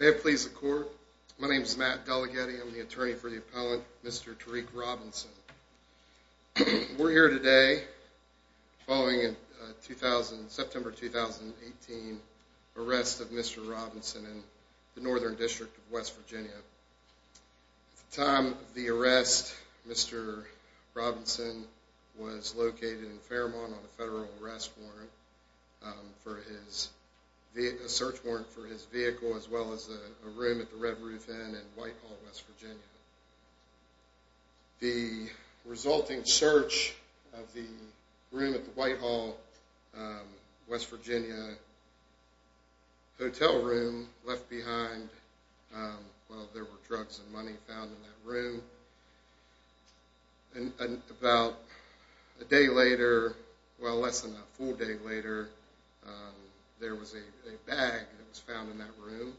May it please the court, my name is Matt Delaghetti, I'm the attorney for the appellant, Mr. Terrick Robinson. We're here today following a September 2018 arrest of Mr. Robinson in the Northern District of West Virginia. At the time of the arrest, Mr. Robinson was located in Fairmont on a federal arrest warrant, a search warrant for his vehicle as well as a room at the Red Roof Inn in Whitehall, West Virginia. The resulting search of the room at the Whitehall, West Virginia hotel room left behind, well there were drugs and money found in that room. And about a day later, well less than a full day later, there was a bag that was found in that room.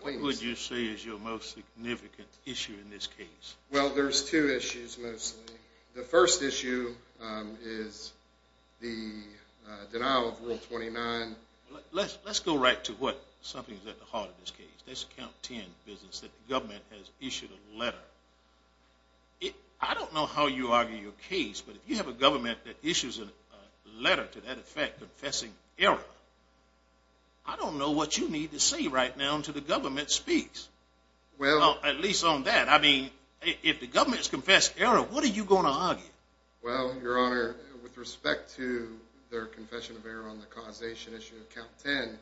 What would you say is your most significant issue in this case? Well there's two issues mostly. The first issue is the denial of Rule 29. Let's go right to what something is at the heart of this case. Let's count ten businesses that the government has issued a letter. I don't know how you argue your case, but if you have a government that issues a letter to that effect confessing error, I don't know what you need to say right now until the government speaks. Well at least on that, I mean if the government has confessed error, what are you going to argue? Well your honor, with respect to their confession of error on the causation issue of count ten,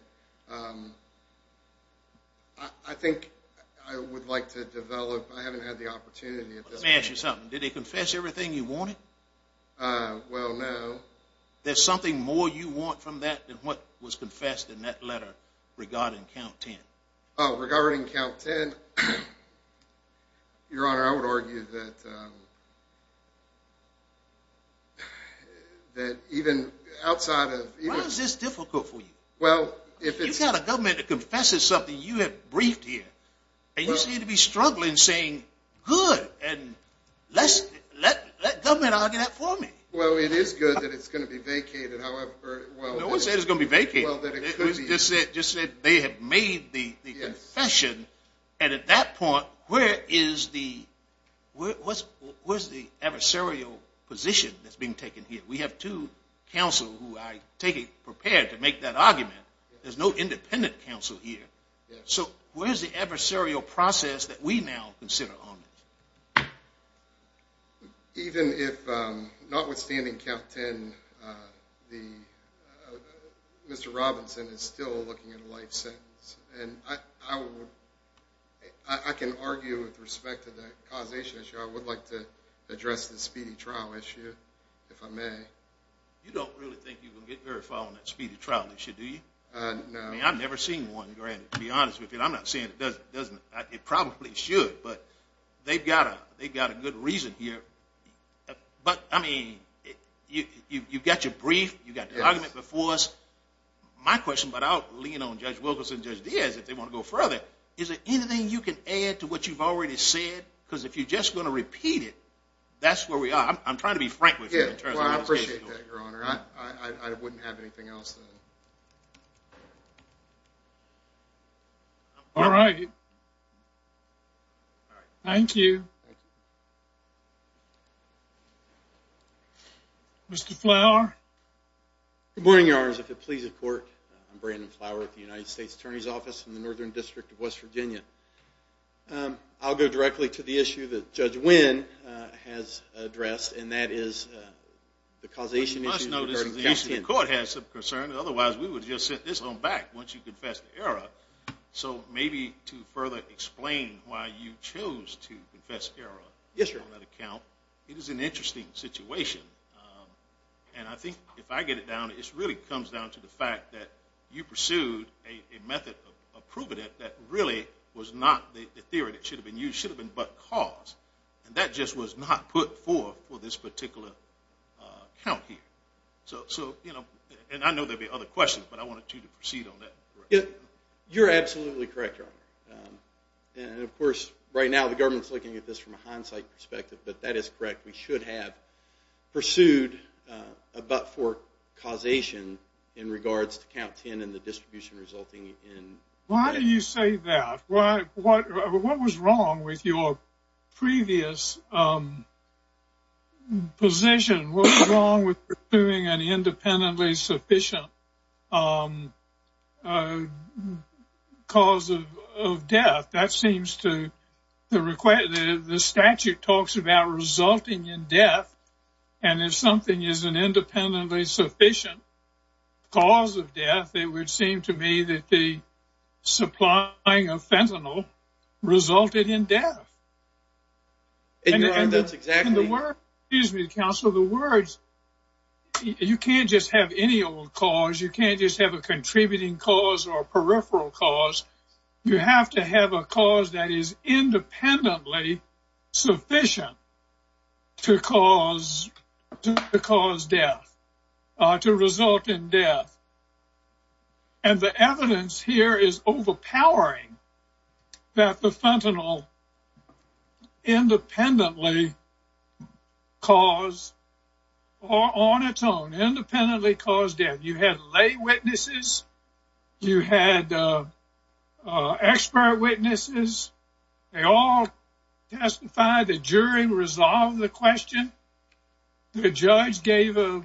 I think I would like to develop, I haven't had the opportunity. Let me ask you something, did they confess everything you wanted? Well no. There's something more you want from that than what was confessed in that letter regarding count ten? Regarding count ten, your honor, I would argue that even outside of... Why is this difficult for you? You've got a government that confesses something you have briefed here, and you seem to be struggling saying good, and let government argue that for me. Well it is good that it's going to be vacated, however... No one said it was going to be vacated. They just said they had made the confession, and at that point, where is the adversarial position that's being taken here? We have two counsel who I take it prepared to make that argument. There's no independent counsel here. So where is the adversarial process that we now consider on this? Even if notwithstanding count ten, Mr. Robinson is still looking at a life sentence, and I can argue with respect to the causation issue, I would like to address the speedy trial issue, if I may. You don't really think you can get very far on that speedy trial issue, do you? No. To be honest with you, I'm not saying it doesn't. It probably should, but they've got a good reason here. But I mean, you've got your brief, you've got the argument before us. My question, but I'll lean on Judge Wilkerson and Judge Diaz if they want to go further, is there anything you can add to what you've already said? Because if you're just going to repeat it, that's where we are. I'm trying to be frank with you. Well, I appreciate that, Your Honor. I wouldn't have anything else to add. All right. Thank you. Mr. Flower? Good morning, Your Honors. If it pleases the Court, I'm Brandon Flower with the United States Attorney's Office in the Northern District of West Virginia. I'll go directly to the issue that Judge Wynn has addressed, and that is the causation issue. You must notice the issue of the Court has some concern. Otherwise, we would have just sent this home back once you confessed the error. So maybe to further explain why you chose to confess error on that account, it is an interesting situation. And I think if I get it down, it really comes down to the fact that you pursued a method of proving it that really was not the theory that should have been used. It should have been but cause, and that just was not put forth for this particular account here. And I know there will be other questions, but I wanted you to proceed on that. You're absolutely correct, Your Honor. And of course, right now the government is looking at this from a hindsight perspective, but that is correct. We should have pursued a but-for causation in regards to count 10 and the distribution resulting in death. Why do you say that? What was wrong with your previous position? What was wrong with pursuing an independently sufficient cause of death? The statute talks about resulting in death. And if something is an independently sufficient cause of death, it would seem to me that the supplying of fentanyl resulted in death. And Your Honor, that's exactly— Excuse me, Counselor. The words—you can't just have any old cause. You can't just have a contributing cause or a peripheral cause. You have to have a cause that is independently sufficient to cause death, to result in death. And the evidence here is overpowering that the fentanyl independently caused or on its own independently caused death. You had lay witnesses. You had expert witnesses. They all testified. The jury resolved the question. The judge gave an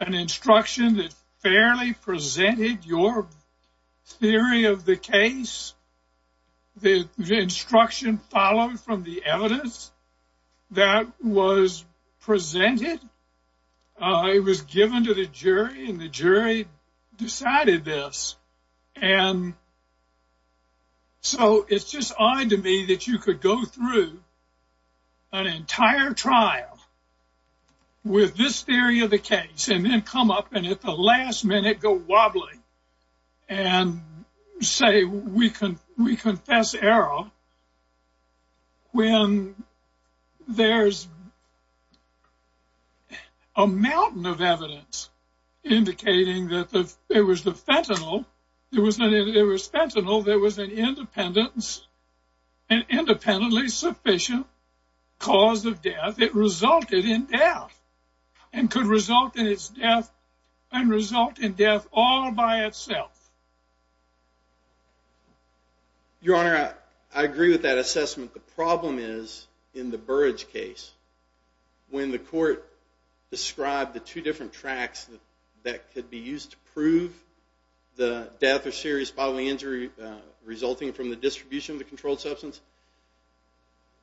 instruction that fairly presented your theory of the case. The instruction followed from the evidence that was presented. It was given to the jury, and the jury decided this. And so it's just odd to me that you could go through an entire trial with this theory of the case, and then come up and at the last minute go wobbly and say we confess error when there's a mountain of evidence indicating that it was the fentanyl. It was fentanyl. There was an independently sufficient cause of death. It resulted in death and could result in its death and result in death all by itself. Your Honor, I agree with that assessment. The problem is in the Burrage case when the court described the two different tracks that could be used to prove the death or serious bodily injury resulting from the distribution of the controlled substance,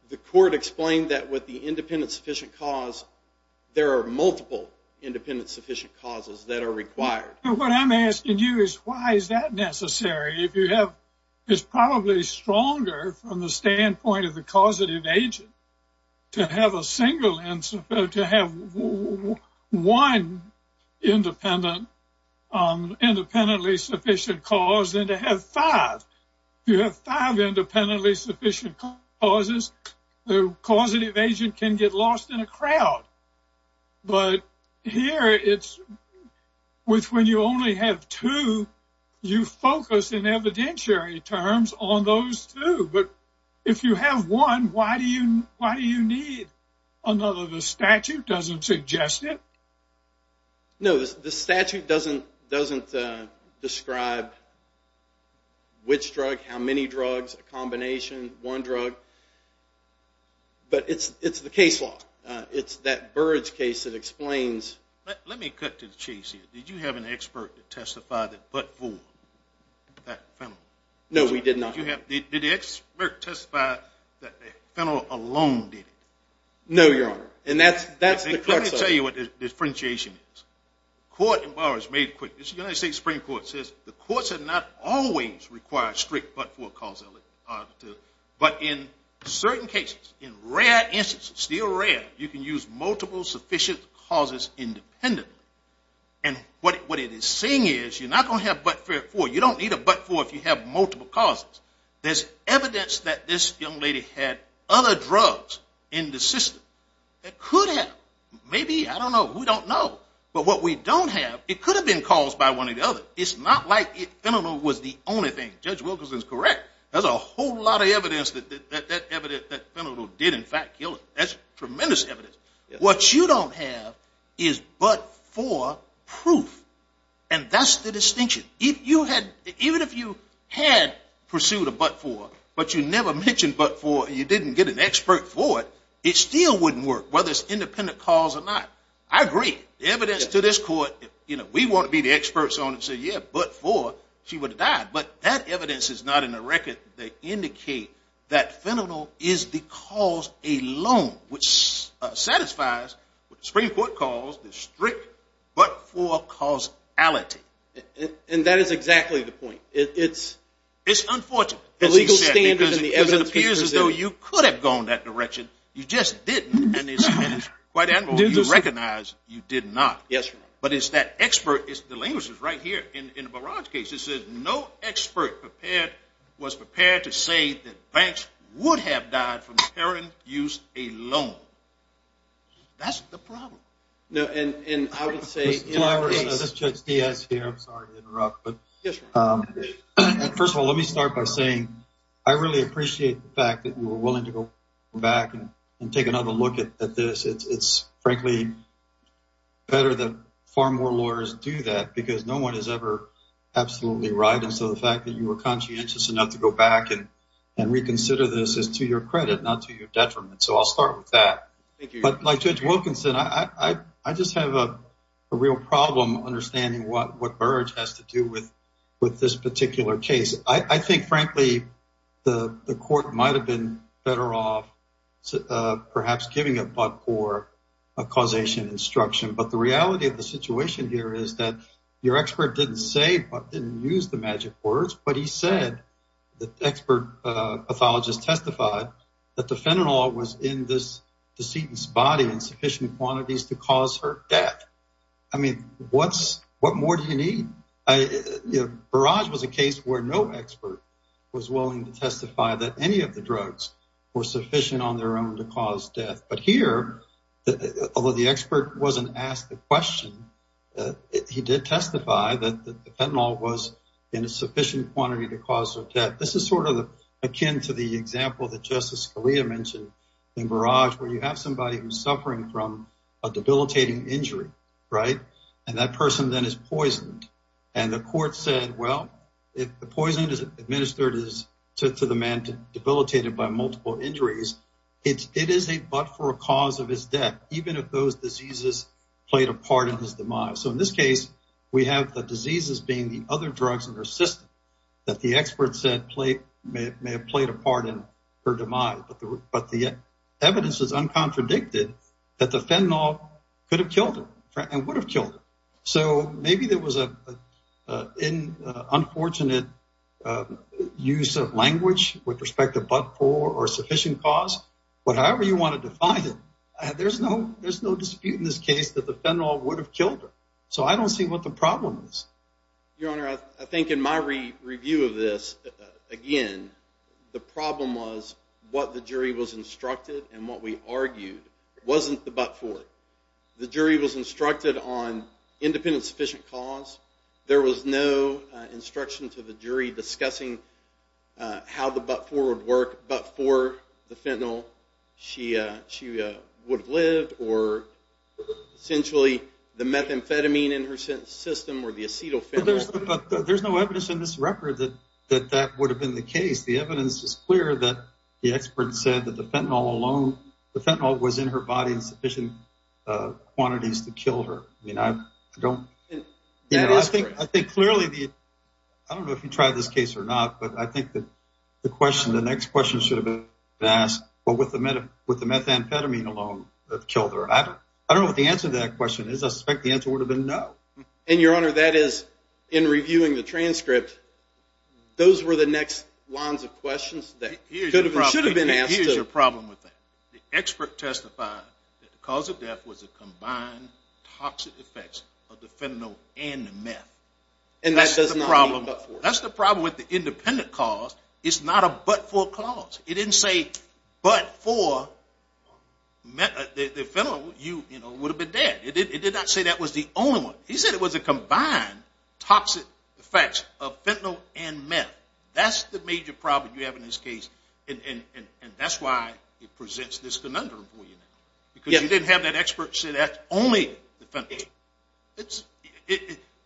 the court explained that with the independently sufficient cause, there are multiple independently sufficient causes that are required. What I'm asking you is why is that necessary? It's probably stronger from the standpoint of the causative agent to have one independently sufficient cause than to have five. If you have five independently sufficient causes, the causative agent can get lost in a crowd. But here it's when you only have two, you focus in evidentiary terms on those two. But if you have one, why do you need another? The statute doesn't suggest it. No, the statute doesn't describe which drug, how many drugs, a combination, one drug. But it's the case law. It's that Burrage case that explains. Let me cut to the chase here. Did you have an expert to testify that but for that fentanyl? No, we did not. Did the expert testify that fentanyl alone did it? No, Your Honor, and that's the crux of it. Let me tell you what the differentiation is. The court in Burrage made it clear. The United States Supreme Court says the courts do not always require strict but-for causality. But in certain cases, in rare instances, still rare, you can use multiple sufficient causes independently. And what it is saying is you're not going to have but-for. You don't need a but-for if you have multiple causes. There's evidence that this young lady had other drugs in the system. It could have. Maybe, I don't know. We don't know. But what we don't have, it could have been caused by one or the other. It's not like fentanyl was the only thing. Judge Wilkerson is correct. There's a whole lot of evidence that that fentanyl did, in fact, kill her. That's tremendous evidence. What you don't have is but-for proof. And that's the distinction. Even if you had pursued a but-for but you never mentioned but-for and you didn't get an expert for it, it still wouldn't work, whether it's independent cause or not. I agree. The evidence to this court, you know, we want to be the experts on it and say, yeah, but-for, she would have died. But that evidence is not in the record. They indicate that fentanyl is the cause alone, which satisfies what the Supreme Court calls the strict but-for causality. And that is exactly the point. It's unfortunate. The legal standards and the evidence. It appears as though you could have gone that direction. You just didn't. And it's quite admirable you recognize you did not. Yes, Your Honor. But it's that expert. The language is right here. In the Barrage case, it says no expert was prepared to say that Banks would have died from heroin use alone. That's the problem. And I would say- Judge Diaz here. I'm sorry to interrupt. Yes, Your Honor. First of all, let me start by saying I really appreciate the fact that you were willing to go back and take another look at this. It's, frankly, better that far more lawyers do that because no one is ever absolutely right. And so the fact that you were conscientious enough to go back and reconsider this is to your credit, not to your detriment. So I'll start with that. But, like Judge Wilkinson, I just have a real problem understanding what Barrage has to do with this particular case. I think, frankly, the court might have been better off perhaps giving a but or a causation instruction. But the reality of the situation here is that your expert didn't say but, didn't use the magic words, but he said the expert pathologist testified that the fentanyl was in this decedent's body in sufficient quantities to cause her death. I mean, what more do you need? Barrage was a case where no expert was willing to testify that any of the drugs were sufficient on their own to cause death. But here, although the expert wasn't asked the question, he did testify that the fentanyl was in a sufficient quantity to cause her death. This is sort of akin to the example that Justice Scalia mentioned in Barrage, where you have somebody who's suffering from a debilitating injury, right? And that person then is poisoned. And the court said, well, if the poison is administered to the man debilitated by multiple injuries, it is a but for a cause of his death, even if those diseases played a part in his demise. So, in this case, we have the diseases being the other drugs in her system that the expert said may have played a part in her demise. But the evidence is uncontradicted that the fentanyl could have killed her and would have killed her. So maybe there was an unfortunate use of language with respect to but for or sufficient cause. But however you want to define it, there's no dispute in this case that the fentanyl would have killed her. So I don't see what the problem is. Your Honor, I think in my review of this, again, the problem was what the jury was instructed and what we argued wasn't the but for it. The jury was instructed on independent sufficient cause. There was no instruction to the jury discussing how the but for would work, but for the fentanyl she would have lived or essentially the methamphetamine in her system or the acetyl fentanyl. But there's no evidence in this record that that would have been the case. The evidence is clear that the expert said that the fentanyl alone, the fentanyl was in her body in sufficient quantities to kill her. I mean, I don't know. I think clearly, I don't know if you tried this case or not, but I think that the question, the next question should have been asked. But with the methamphetamine alone that killed her, I don't know what the answer to that question is. I suspect the answer would have been no. And, Your Honor, that is in reviewing the transcript, those were the next lines of questions that should have been asked. Here's the problem with that. The expert testified that the cause of death was a combined toxic effects of the fentanyl and the meth. And that's the problem. That's the problem with the independent cause. It's not a but for cause. It didn't say but for the fentanyl, you would have been dead. It did not say that was the only one. He said it was a combined toxic effects of fentanyl and meth. That's the major problem you have in this case. And that's why it presents this conundrum for you. Because you didn't have that expert say that only the fentanyl.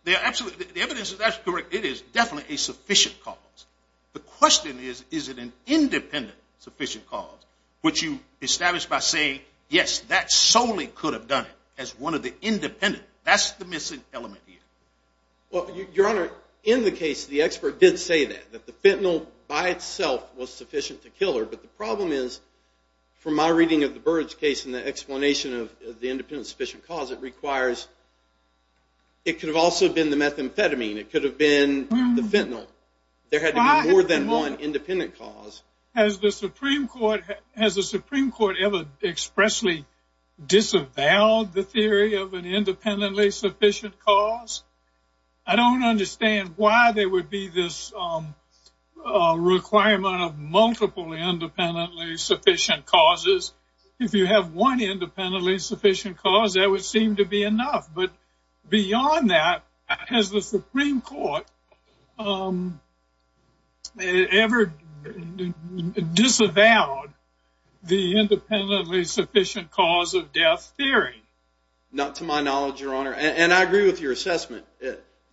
The evidence is absolutely correct. It is definitely a sufficient cause. The question is, is it an independent sufficient cause? Would you establish by saying, yes, that solely could have done it as one of the independent. That's the missing element here. Well, Your Honor, in the case, the expert did say that, that the fentanyl by itself was sufficient to kill her. But the problem is, from my reading of the Byrds case and the explanation of the independent sufficient cause, it requires – it could have also been the methamphetamine. It could have been the fentanyl. There had to be more than one independent cause. Has the Supreme Court ever expressly disavowed the theory of an independently sufficient cause? I don't understand why there would be this requirement of multiple independently sufficient causes. If you have one independently sufficient cause, that would seem to be enough. But beyond that, has the Supreme Court ever disavowed the independently sufficient cause of death theory? Not to my knowledge, Your Honor. And I agree with your assessment.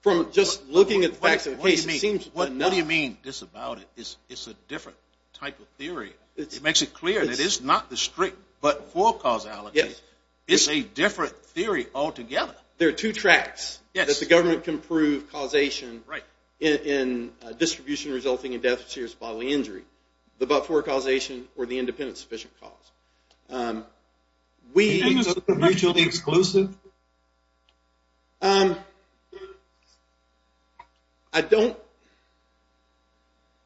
From just looking at the facts of the case, it seems – What do you mean, disavowed? It's a different type of theory. It makes it clear that it's not the strict but full causality. Yes. It's a different theory altogether. There are two tracks that the government can prove causation in distribution resulting in death or serious bodily injury. The but-for causation or the independently sufficient cause. Is it mutually exclusive? I don't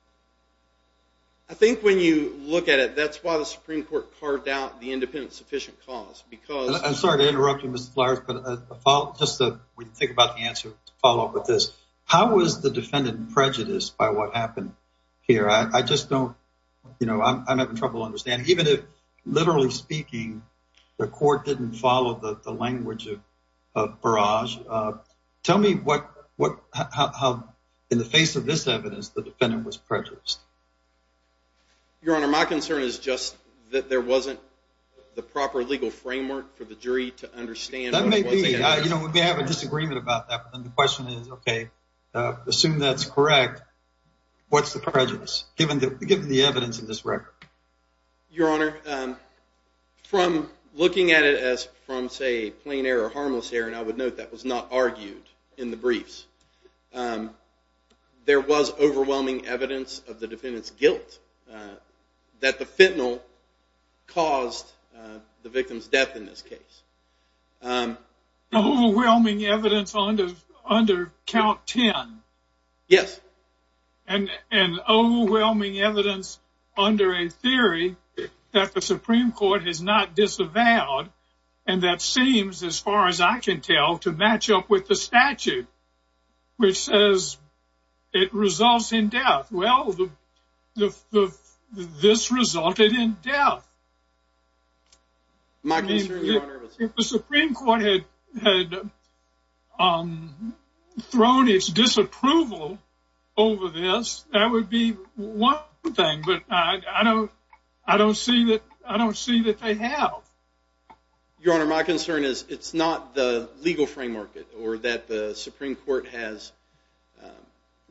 – I think when you look at it, that's why the Supreme Court carved out the independently sufficient cause because – I'm sorry to interrupt you, Mr. Fliers, but just to think about the answer to follow up with this. How was the defendant prejudiced by what happened here? I just don't – I'm having trouble understanding. Even if, literally speaking, the court didn't follow the language of Barrage, tell me how, in the face of this evidence, the defendant was prejudiced. Your Honor, my concern is just that there wasn't the proper legal framework for the jury to understand. That may be. We may have a disagreement about that, but then the question is, okay, assume that's correct, what's the prejudice, given the evidence in this record? Your Honor, from looking at it as from, say, plain error or harmless error, and I would note that was not argued in the briefs, there was overwhelming evidence of the defendant's guilt that the fentanyl caused the victim's death in this case. Overwhelming evidence under count 10? Yes. And overwhelming evidence under a theory that the Supreme Court has not disavowed, and that seems, as far as I can tell, to match up with the statute, which says it results in death. Well, this resulted in death. If the Supreme Court had thrown its disapproval over this, that would be one thing, but I don't see that they have. Your Honor, my concern is it's not the legal framework or that the Supreme Court has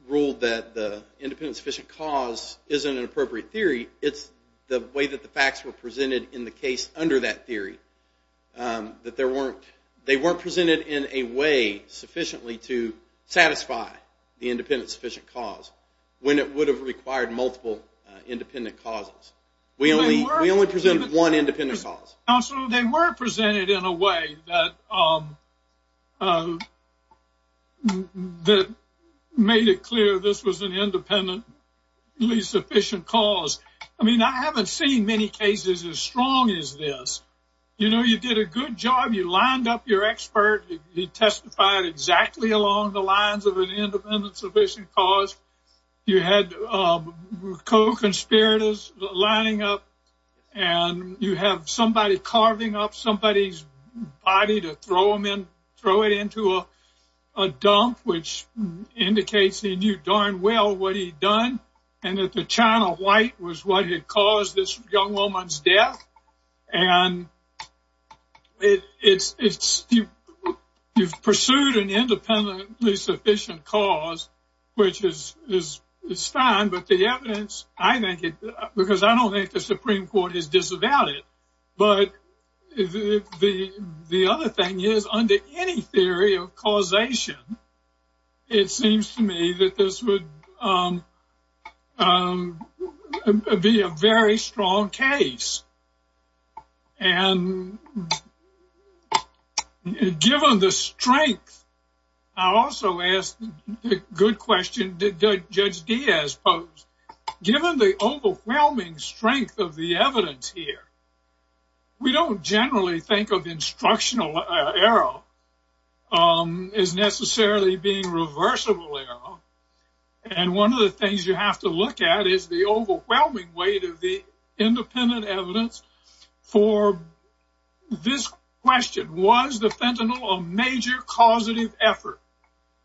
ruled that the independent sufficient cause isn't an appropriate theory, it's the way that the facts were presented in the case under that theory. That they weren't presented in a way sufficiently to satisfy the independent sufficient cause when it would have required multiple independent causes. We only presented one independent cause. Counsel, they were presented in a way that made it clear this was an independently sufficient cause. I mean, I haven't seen many cases as strong as this. You know, you did a good job, you lined up your expert, he testified exactly along the lines of an independently sufficient cause. You had co-conspirators lining up, and you have somebody carving up somebody's body to throw it into a dump, which indicates he knew darn well what he'd done, and that the China White was what had caused this young woman's death. And you've pursued an independently sufficient cause, which is fine, but the evidence, I think, because I don't think the Supreme Court is disavowed, but the other thing is, under any theory of causation, it seems to me that this would be a very strong case. And given the strength, I also ask the good question that Judge Diaz posed, given the overwhelming strength of the evidence here, we don't generally think of instructional error as necessarily being reversible error. And one of the things you have to look at is the overwhelming weight of the independent evidence for this question. Was the fentanyl a major causative effort,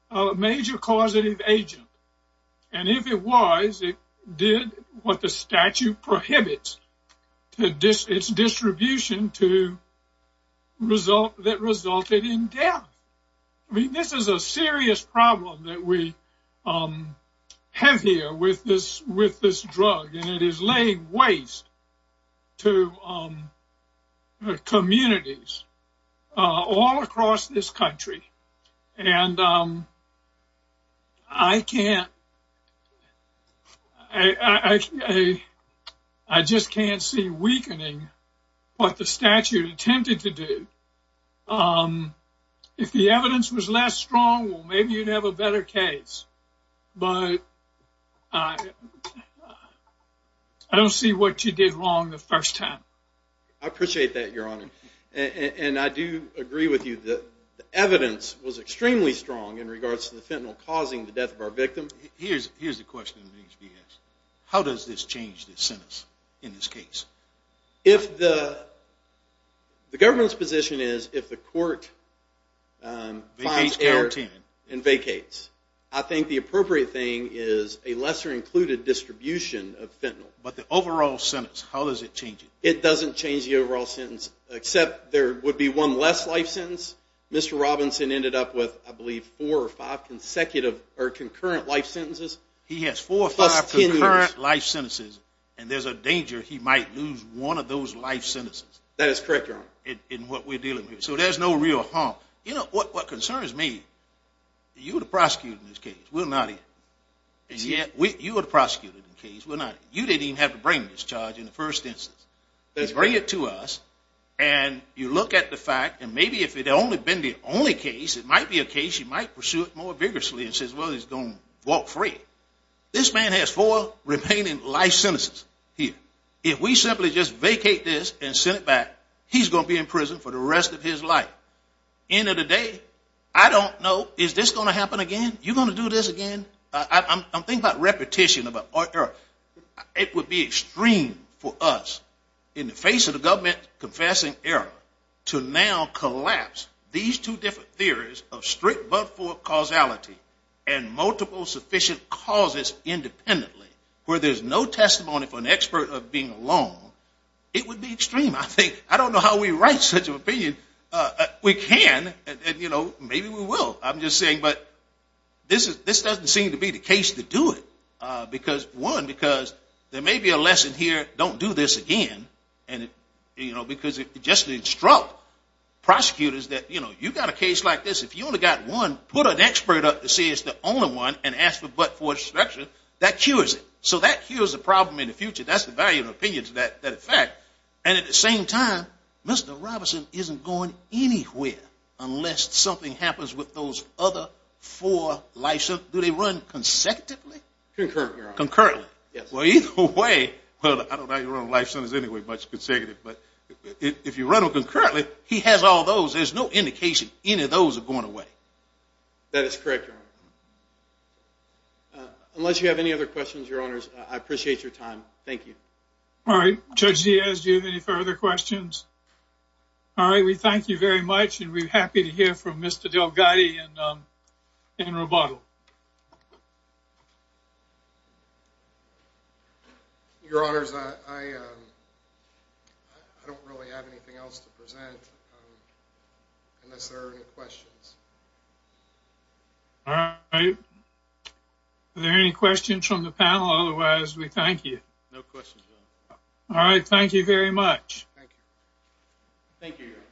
a major causative agent? And if it was, it did what the statute prohibits, its distribution that resulted in death. I mean, this is a serious problem that we have here with this drug, and it is laying waste to communities all across this country. And I can't, I just can't see weakening what the statute attempted to do. If the evidence was less strong, well, maybe you'd have a better case, but I don't see what you did wrong the first time. I appreciate that, Your Honor. And I do agree with you that the evidence was extremely strong in regards to the fentanyl causing the death of our victim. Here's the question that needs to be asked. How does this change the sentence in this case? The government's position is if the court finds error and vacates, I think the appropriate thing is a lesser included distribution of fentanyl. But the overall sentence, how does it change it? It doesn't change the overall sentence, except there would be one less life sentence. Mr. Robinson ended up with, I believe, four or five consecutive or concurrent life sentences. He has four or five concurrent life sentences, and there's a danger he might lose one of those life sentences. That is correct, Your Honor. In what we're dealing with. So there's no real harm. You know, what concerns me, you're the prosecutor in this case. We're not here. You're the prosecutor in this case. You didn't even have to bring this charge in the first instance. You bring it to us, and you look at the fact, and maybe if it had only been the only case, it might be a case you might pursue it more vigorously, and say, well, he's going to walk free. This man has four remaining life sentences here. If we simply just vacate this and send it back, he's going to be in prison for the rest of his life. End of the day, I don't know, is this going to happen again? You going to do this again? I'm thinking about repetition, about order. It would be extreme for us, in the face of the government confessing error, to now collapse these two different theories of strict but-for causality and multiple sufficient causes independently, where there's no testimony for an expert of being alone. It would be extreme, I think. I don't know how we write such an opinion. We can, and maybe we will. I'm just saying, but this doesn't seem to be the case to do it. One, because there may be a lesson here, don't do this again, because if you just instruct prosecutors that you've got a case like this, if you only got one, put an expert up to see it's the only one, and ask for but-for inspection, that cures it. So that cures the problem in the future. That's the value of opinions that affect. And at the same time, Mr. Robinson isn't going anywhere unless something happens with those other four life sentences. Do they run consecutively? Concurrently, Your Honor. Concurrently. Well, either way, I don't know how you run life sentences anyway, but it's consecutive. But if you run them concurrently, he has all those. There's no indication any of those are going away. That is correct, Your Honor. Unless you have any other questions, Your Honors, I appreciate your time. Thank you. All right. Judge Diaz, do you have any further questions? All right. We thank you very much, and we're happy to hear from Mr. DelGatti and Roboto. Your Honors, I don't really have anything else to present unless there are any questions. All right. Are there any questions from the panel? Otherwise, we thank you. No questions, Your Honor. All right. Thank you very much. Thank you. Thank you, Your Honor.